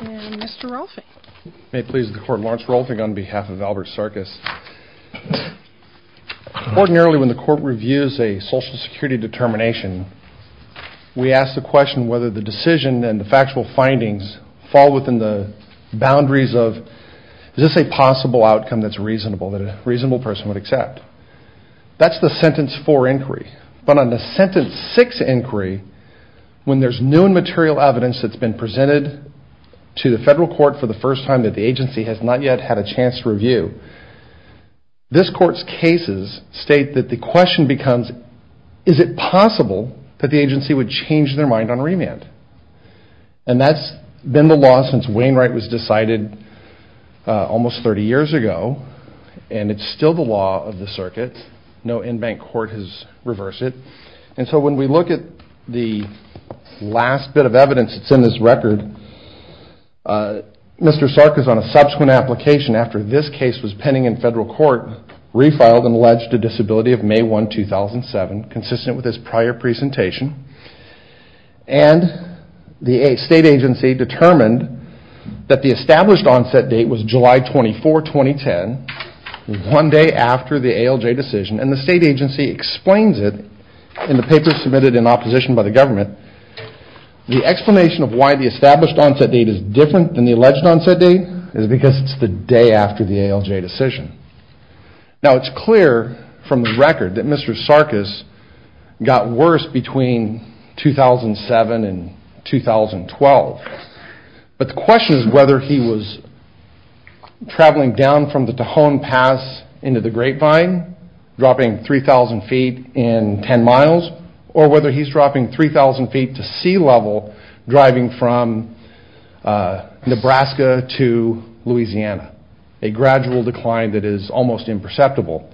And Mr. Rolfing. May it please the court, Lawrence Rolfing on behalf of Albert Sarkiss. Ordinarily when the court reviews a social security determination we ask the question whether the decision and the factual findings fall within the boundaries of is this a possible outcome that's reasonable, that a reasonable person would accept. That's the sentence four inquiry. But on the sentence six inquiry, when there's new and material evidence that's been presented to the federal court for the first time that the agency has not yet had a chance to review, this court's cases state that the question becomes is it possible that the agency would change their mind on remand. And that's been the law since Wainwright was decided almost 30 years ago and it's still the law of the circuit. No in-bank court has reversed it. And so when we look at the last bit of evidence that's in this record, Mr. Sarkiss on a subsequent application after this case was pending in federal court, refiled and alleged a disability of May 1, 2007, consistent with his prior presentation. And the state agency determined that the established onset date was July 24, 2010, one day after the ALJ decision. And the state agency explains it in the paper submitted in opposition by the government. The explanation of why the established onset date is different than the alleged onset date is because it's the day after the ALJ decision. Now it's clear from the record that Mr. Sarkiss got worse between 2007 and 2012. But the question is whether he was traveling down from the Tohon Pass into the Grapevine dropping 3,000 feet in 10 miles or whether he's dropping 3,000 feet to sea level driving from Nebraska to Louisiana. A gradual decline that is almost imperceptible.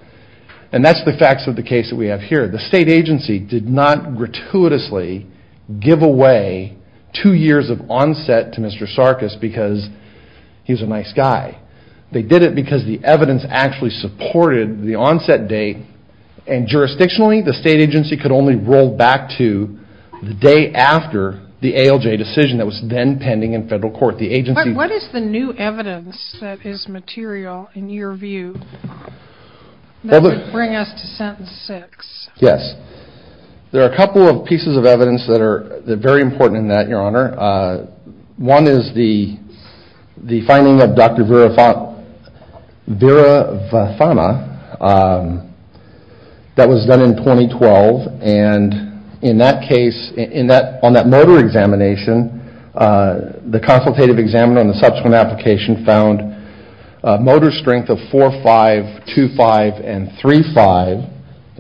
And that's the facts of the case that we have here. The state agency did not gratuitously give away two years of onset to Mr. Sarkiss because he's a nice guy. They did it because the evidence actually supported the onset date and jurisdictionally the state agency could only roll back to the day after the ALJ decision that was then pending in federal court. What is the new evidence that is material in your view that would bring us to sentence six? Yes. There are a couple of pieces of evidence that are very important in that, Your Honor. One is the finding of Dr. Veera Vathama that was done in 2012. And in that case, on that motor examination, the consultative examiner on the subsequent application found motor strength of 4-5, 2-5, and 3-5.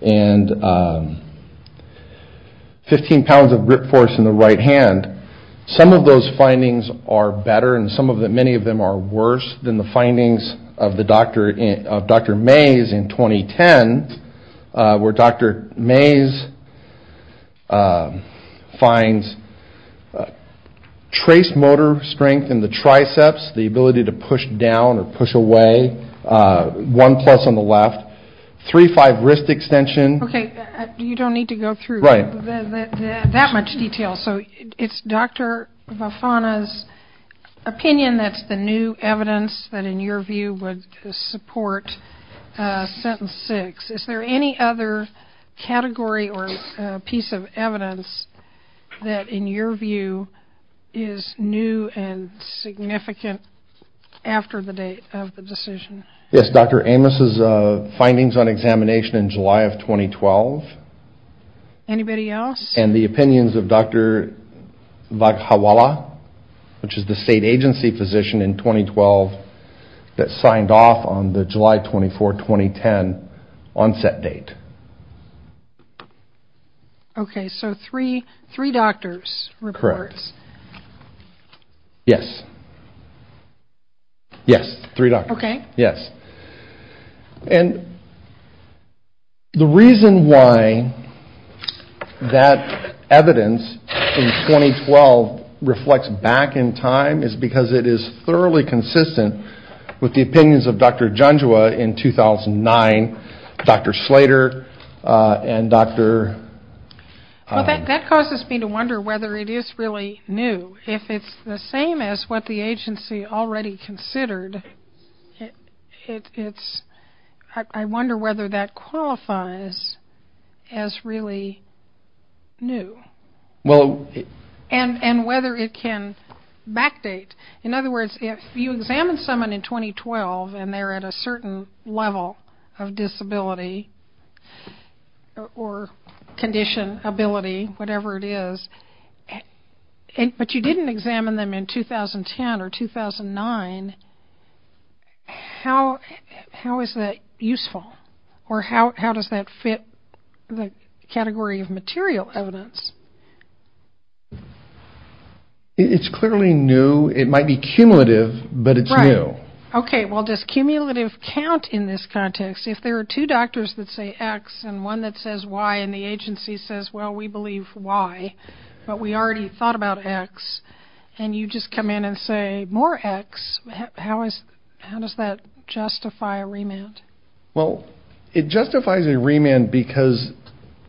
And 15 pounds of grip force in the right hand. Some of those findings are better and many of them are worse than the findings of Dr. Mays in 2010 where Dr. Mays finds trace motor strength in the triceps, the ability to push down or push away, 1-plus on the left, 3-5 wrist extension. Okay. You don't need to go through that much detail. So it's Dr. Vathama's opinion that's the new evidence that in your view would support sentence six. Is there any other category or piece of evidence that in your view is new and significant after the date of the decision? Yes. Dr. Amos' findings on examination in July of 2012. Anybody else? And the opinions of Dr. Vaghawala, which is the state agency physician in 2012 that signed off on the July 24, 2010 onset date. Okay. So three doctors reports. Correct. Yes. Yes. Three doctors. Okay. Yes. And the reason why that evidence in 2012 reflects back in time is because it is thoroughly consistent with the opinions of Dr. Junjua in 2009, Dr. Slater and Dr. That causes me to wonder whether it is really new. If it's the same as what the agency already considered, I wonder whether that qualifies as really new and whether it can backdate. In other words, if you examine someone in 2012 and they're at a certain level of disability or condition, ability, whatever it is, but you didn't examine them in 2010 or 2009, how is that useful? Or how does that fit the category of material evidence? It's clearly new. It might be cumulative, but it's new. Right. Okay. Well, does cumulative count in this context? If there are two doctors that say X and one that says Y and the agency says, well, we believe Y, but we already thought about X, and you just come in and say more X, how does that justify a remand? Well, it justifies a remand because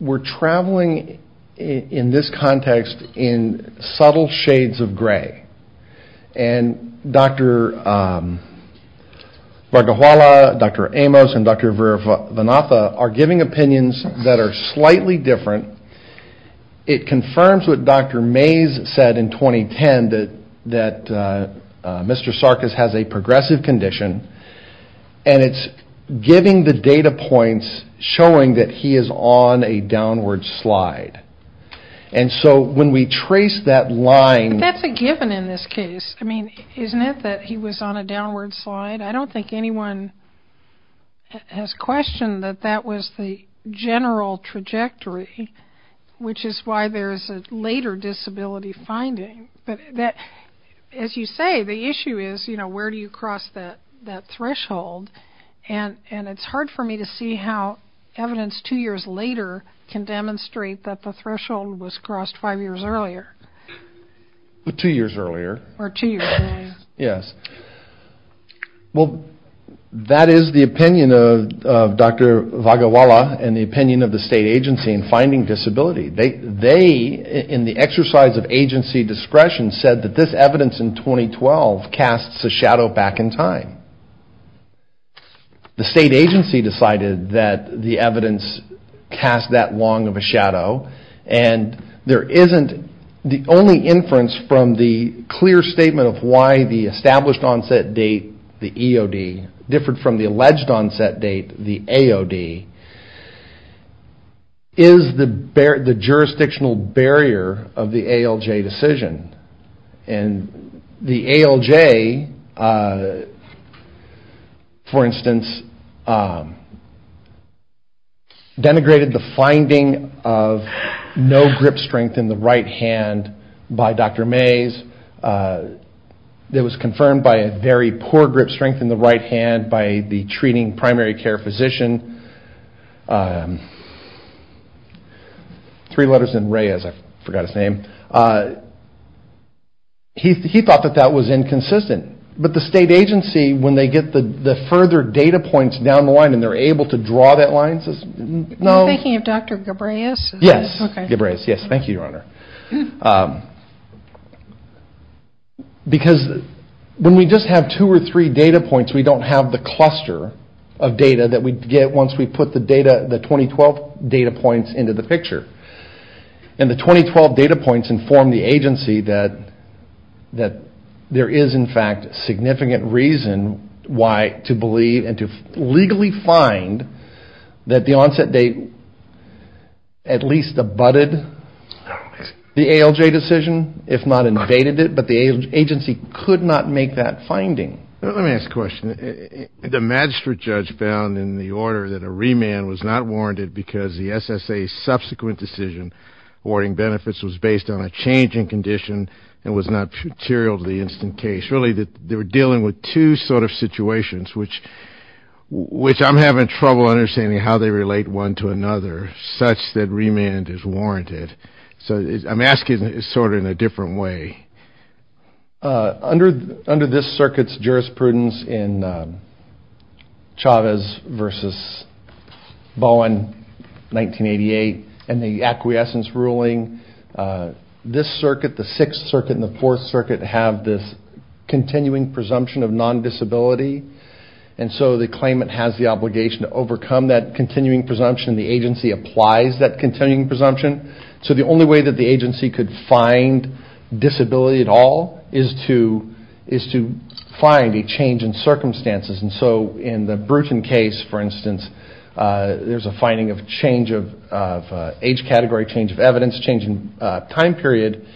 we're traveling in this context in subtle shades of gray. And Dr. Vargahuala, Dr. Amos, and Dr. Varnatha are giving opinions that are slightly different. It confirms what Dr. Mays said in 2010, that Mr. Sarkis has a progressive condition, and it's giving the data points showing that he is on a downward slide. And so when we trace that line... But that's a given in this case. I mean, isn't it that he was on a downward slide? I don't think anyone has questioned that that was the general trajectory, which is why there is a later disability finding. But as you say, the issue is, you know, where do you cross that threshold? And it's hard for me to see how evidence two years later can demonstrate that the threshold was crossed five years earlier. Two years earlier. Or two years earlier. Yes. Well, that is the opinion of Dr. Vargahuala and the opinion of the state agency in finding disability. They, in the exercise of agency discretion, said that this evidence in 2012 casts a shadow back in time. The state agency decided that the evidence cast that long of a shadow. And there isn't... The only inference from the clear statement of why the established onset date, the EOD, differed from the alleged onset date, the AOD, is the jurisdictional barrier of the ALJ decision. And the ALJ, for instance, denigrated the finding of no grip strength in the right hand by Dr. Mays. It was confirmed by a very poor grip strength in the right hand by the treating primary care physician. Three letters in Reyes. I forgot his name. He thought that that was inconsistent. But the state agency, when they get the further data points down the line and they're able to draw that line, says, no. Are you thinking of Dr. Ghebreyes? Yes. Ghebreyes. Yes. Thank you, Your Honor. Because when we just have two or three data points, we don't have the cluster of data that we get once we put the 2012 data points into the picture. And the 2012 data points inform the agency that there is, in fact, significant reason why to believe and to legally find that the onset date at least abutted the ALJ decision, if not invaded it. But the agency could not make that finding. Let me ask a question. The magistrate judge found in the order that a remand was not warranted because the SSA's subsequent decision awarding benefits was based on a changing condition and was not material to the instant case. They were dealing with two sort of situations, which I'm having trouble understanding how they relate one to another, such that remand is warranted. So I'm asking it sort of in a different way. Under this circuit's jurisprudence in Chavez v. Bowen, 1988, and the acquiescence ruling, this circuit, the Sixth Circuit and the Fourth Circuit, have this continuing presumption of non-disability. And so the claimant has the obligation to overcome that continuing presumption. The agency applies that continuing presumption. So the only way that the agency could find disability at all is to find a change in circumstances. And so in the Bruton case, for instance, there's a finding of change of age category, change of evidence, change in time period.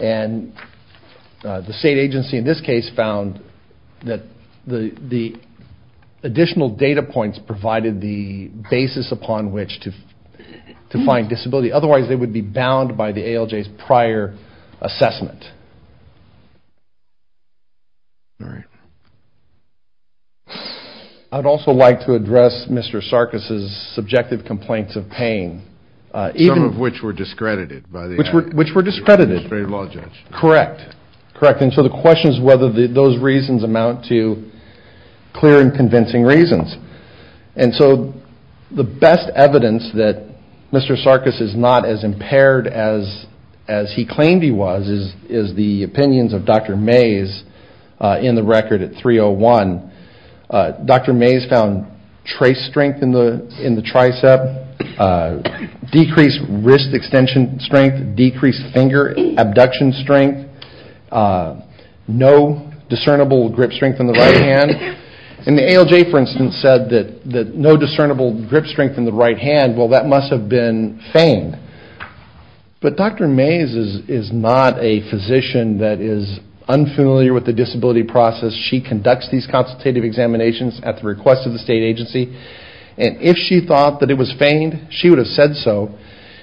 And the state agency in this case found that the additional data points provided the basis upon which to find disability. Otherwise, they would be bound by the ALJ's prior assessment. All right. I'd also like to address Mr. Sarkis's subjective complaints of pain. Some of which were discredited by the administrative law judge. Correct. And so the question is whether those reasons amount to clear and convincing reasons. And so the best evidence that Mr. Sarkis is not as impaired as he claimed he was is the opinions of Dr. Mays in the record at 301. Dr. Mays found trace strength in the tricep, decreased wrist extension strength, decreased finger abduction strength. No discernible grip strength in the right hand. And the ALJ, for instance, said that no discernible grip strength in the right hand. Well, that must have been fame. But Dr. Mays is not a physician that is unfamiliar with the disability process. She conducts these consultative examinations at the request of the state agency. And if she thought that it was famed, she would have said so.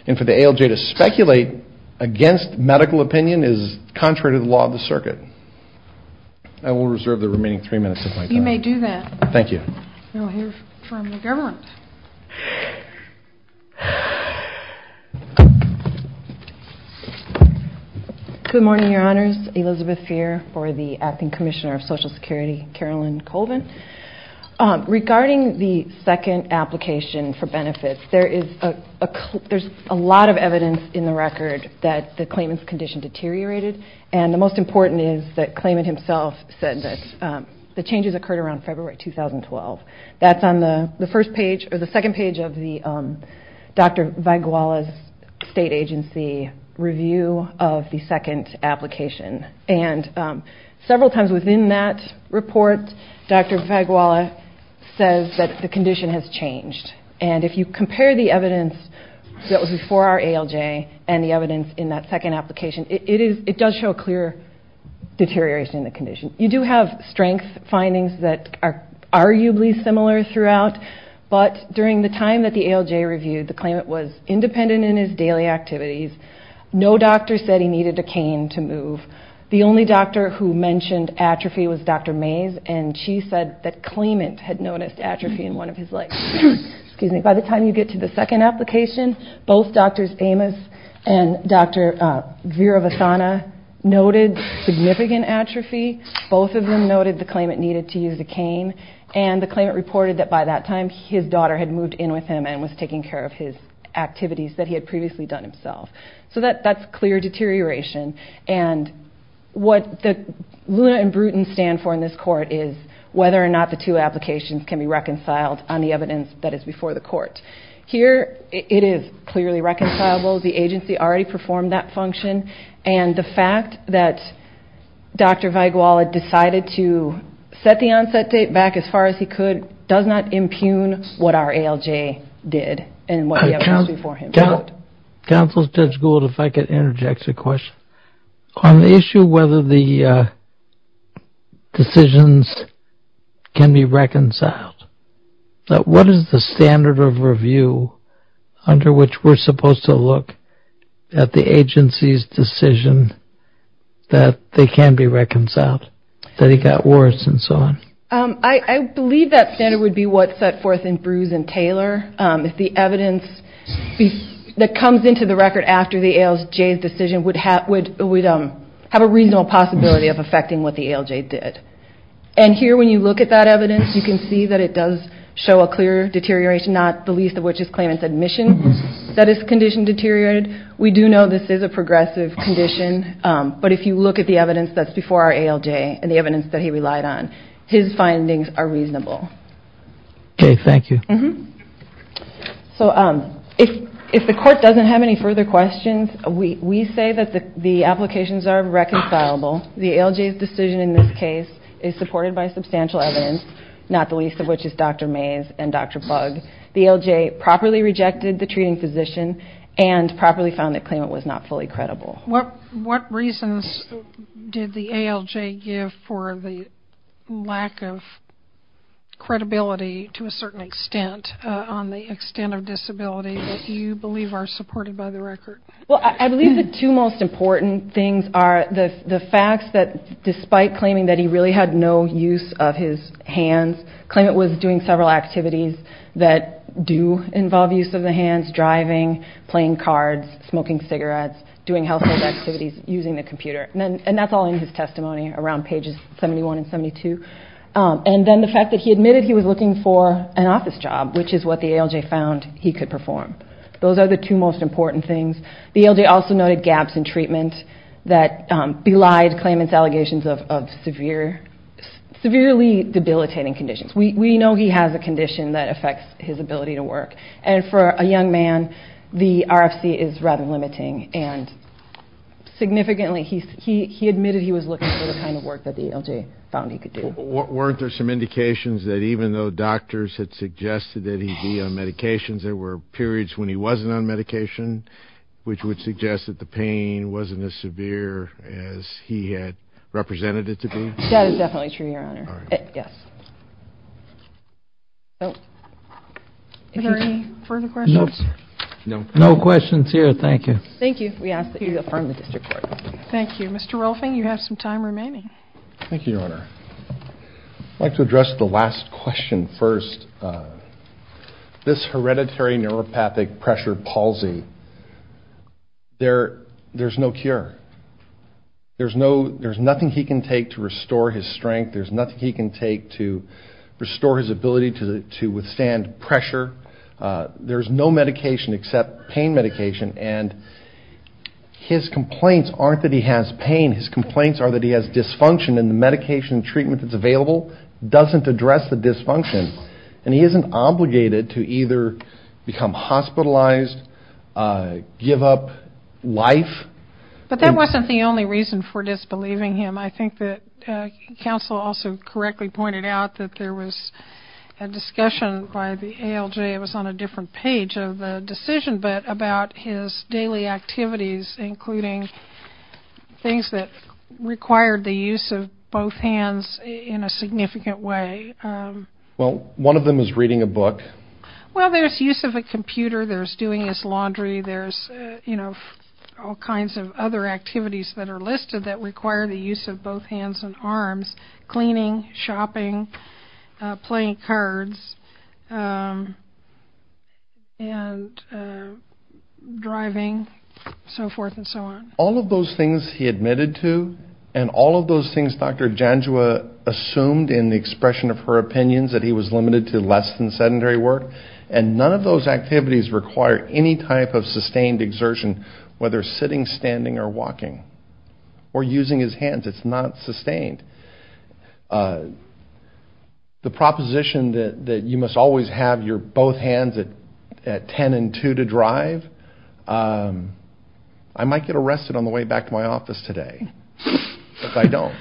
And for the ALJ to speculate against medical opinion is contrary to the law of the circuit. I will reserve the remaining three minutes of my time. You may do that. Thank you. We'll hear from the government. Good morning, Your Honors. Elizabeth Fehr for the Acting Commissioner of Social Security, Carolyn Colvin. Regarding the second application for benefits, there is a lot of evidence in the record that the claimant's condition deteriorated. And the most important is that the claimant himself said that the changes occurred around February 2012. That's on the first page or the second page of Dr. Vaguala's state agency review of the second application. And several times within that report, Dr. Vaguala says that the condition has changed. And if you compare the evidence that was before our ALJ and the evidence in that second application, it does show a clear deterioration in the condition. You do have strength findings that are arguably similar throughout. But during the time that the ALJ reviewed, the claimant was independent in his daily activities. No doctor said he needed a cane to move. The only doctor who mentioned atrophy was Dr. Mays, and she said that claimant had noticed atrophy in one of his legs. By the time you get to the second application, both Drs. Amos and Dr. Veeravasana noted significant atrophy. Both of them noted the claimant needed to use a cane. And the claimant reported that by that time his daughter had moved in with him and was taking care of his activities that he had previously done himself. So that's clear deterioration. And what Luna and Bruton stand for in this court is whether or not the two applications can be reconciled on the evidence that is before the court. Here, it is clearly reconcilable. The agency already performed that function. And the fact that Dr. Vaguala decided to set the onset date back as far as he could does not impugn what our ALJ did and what the evidence before him showed. Counsel Judge Gould, if I could interject a question. On the issue whether the decisions can be reconciled, what is the standard of review under which we're supposed to look at the agency's decision that they can be reconciled, that it got worse and so on? I believe that standard would be what's set forth in Brews and Taylor. If the evidence that comes into the record after the ALJ's decision would have a reasonable possibility of affecting what the ALJ did. And here when you look at that evidence, you can see that it does show a clear deterioration, not the least of which is claimant's admission that his condition deteriorated. We do know this is a progressive condition, but if you look at the evidence that's before our ALJ and the evidence that he relied on, his findings are reasonable. Okay, thank you. So if the court doesn't have any further questions, we say that the applications are reconcilable. The ALJ's decision in this case is supported by substantial evidence, not the least of which is Dr. Mays and Dr. Bugg. The ALJ properly rejected the treating physician and properly found that claimant was not fully credible. What reasons did the ALJ give for the lack of credibility to a certain extent on the extent of disability that you believe are supported by the record? Well, I believe the two most important things are the facts that, despite claiming that he really had no use of his hands, claimant was doing several activities that do involve use of the hands, driving, playing cards, smoking cigarettes, doing household activities, using the computer. And that's all in his testimony around pages 71 and 72. And then the fact that he admitted he was looking for an office job, which is what the ALJ found he could perform. Those are the two most important things. The ALJ also noted gaps in treatment that belied claimant's allegations of severely debilitating conditions. We know he has a condition that affects his ability to work. And for a young man, the RFC is rather limiting. And significantly, he admitted he was looking for the kind of work that the ALJ found he could do. Weren't there some indications that even though doctors had suggested that he be on medications, there were periods when he wasn't on medication, which would suggest that the pain wasn't as severe as he had represented it to be? That is definitely true, Your Honor. Yes. Are there any further questions? Nope. No questions here. Thank you. Thank you. We ask that you affirm the district court. Thank you. Mr. Rolfing, you have some time remaining. Thank you, Your Honor. I'd like to address the last question first. This hereditary neuropathic pressure palsy, there's no cure. There's nothing he can take to restore his strength. There's nothing he can take to restore his ability to withstand pressure. There's no medication except pain medication. And his complaints aren't that he has pain. His complaints are that he has dysfunction, and the medication and treatment that's available doesn't address the dysfunction. And he isn't obligated to either become hospitalized, give up life. But that wasn't the only reason for disbelieving him. I think that counsel also correctly pointed out that there was a discussion by the ALJ. It was on a different page of the decision, but about his daily activities, including things that required the use of both hands in a significant way. Well, one of them is reading a book. Well, there's use of a computer. There's doing his laundry. There's, you know, all kinds of other activities that are listed that require the use of both hands and arms, cleaning, shopping, playing cards, and driving, so forth and so on. All of those things he admitted to and all of those things Dr. Janjua assumed in the expression of her opinions that he was limited to less than sedentary work, and none of those activities require any type of sustained exertion, whether sitting, standing, or walking, or using his hands. It's not sustained. The proposition that you must always have your both hands at 10 and 2 to drive, I might get arrested on the way back to my office today if I don't.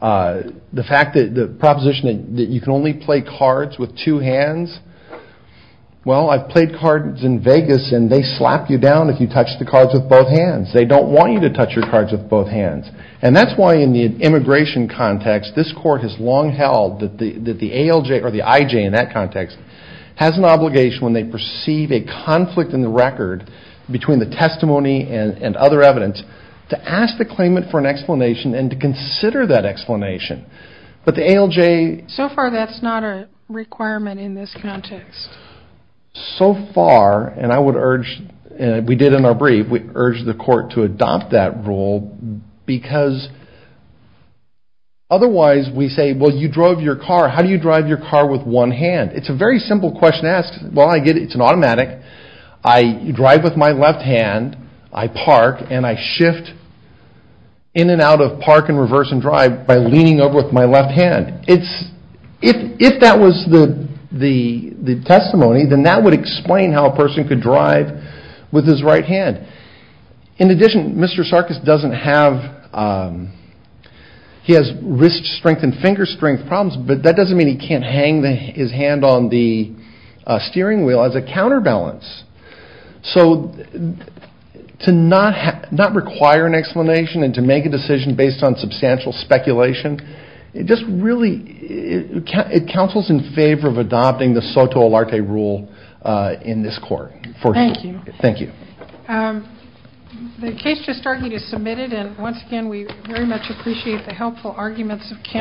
The fact that the proposition that you can only play cards with two hands, well, I've played cards in Vegas and they slap you down if you touch the cards with both hands. They don't want you to touch your cards with both hands. And that's why in the immigration context, this court has long held that the ALJ or the IJ in that context has an obligation when they perceive a conflict in the record between the testimony and other evidence to ask the claimant for an explanation and to consider that explanation. But the ALJ... So far that's not a requirement in this context. So far, and I would urge, and we did in our brief, we urge the court to adopt that rule because otherwise we say, well, you drove your car. How do you drive your car with one hand? It's a very simple question to ask. Well, I get it. It's an automatic. I drive with my left hand. I park and I shift in and out of park and reverse and drive by leaning over with my left hand. If that was the testimony, then that would explain how a person could drive with his right hand. In addition, Mr. Sarkis doesn't have... He has wrist strength and finger strength problems, but that doesn't mean he can't hang his hand on the steering wheel as a counterbalance. So to not require an explanation and to make a decision based on substantial speculation, it just really... It counsels in favor of adopting the Soto-Olarte rule in this court. Thank you. Thank you. The case just started to be submitted, and once again we very much appreciate the helpful arguments of counsel.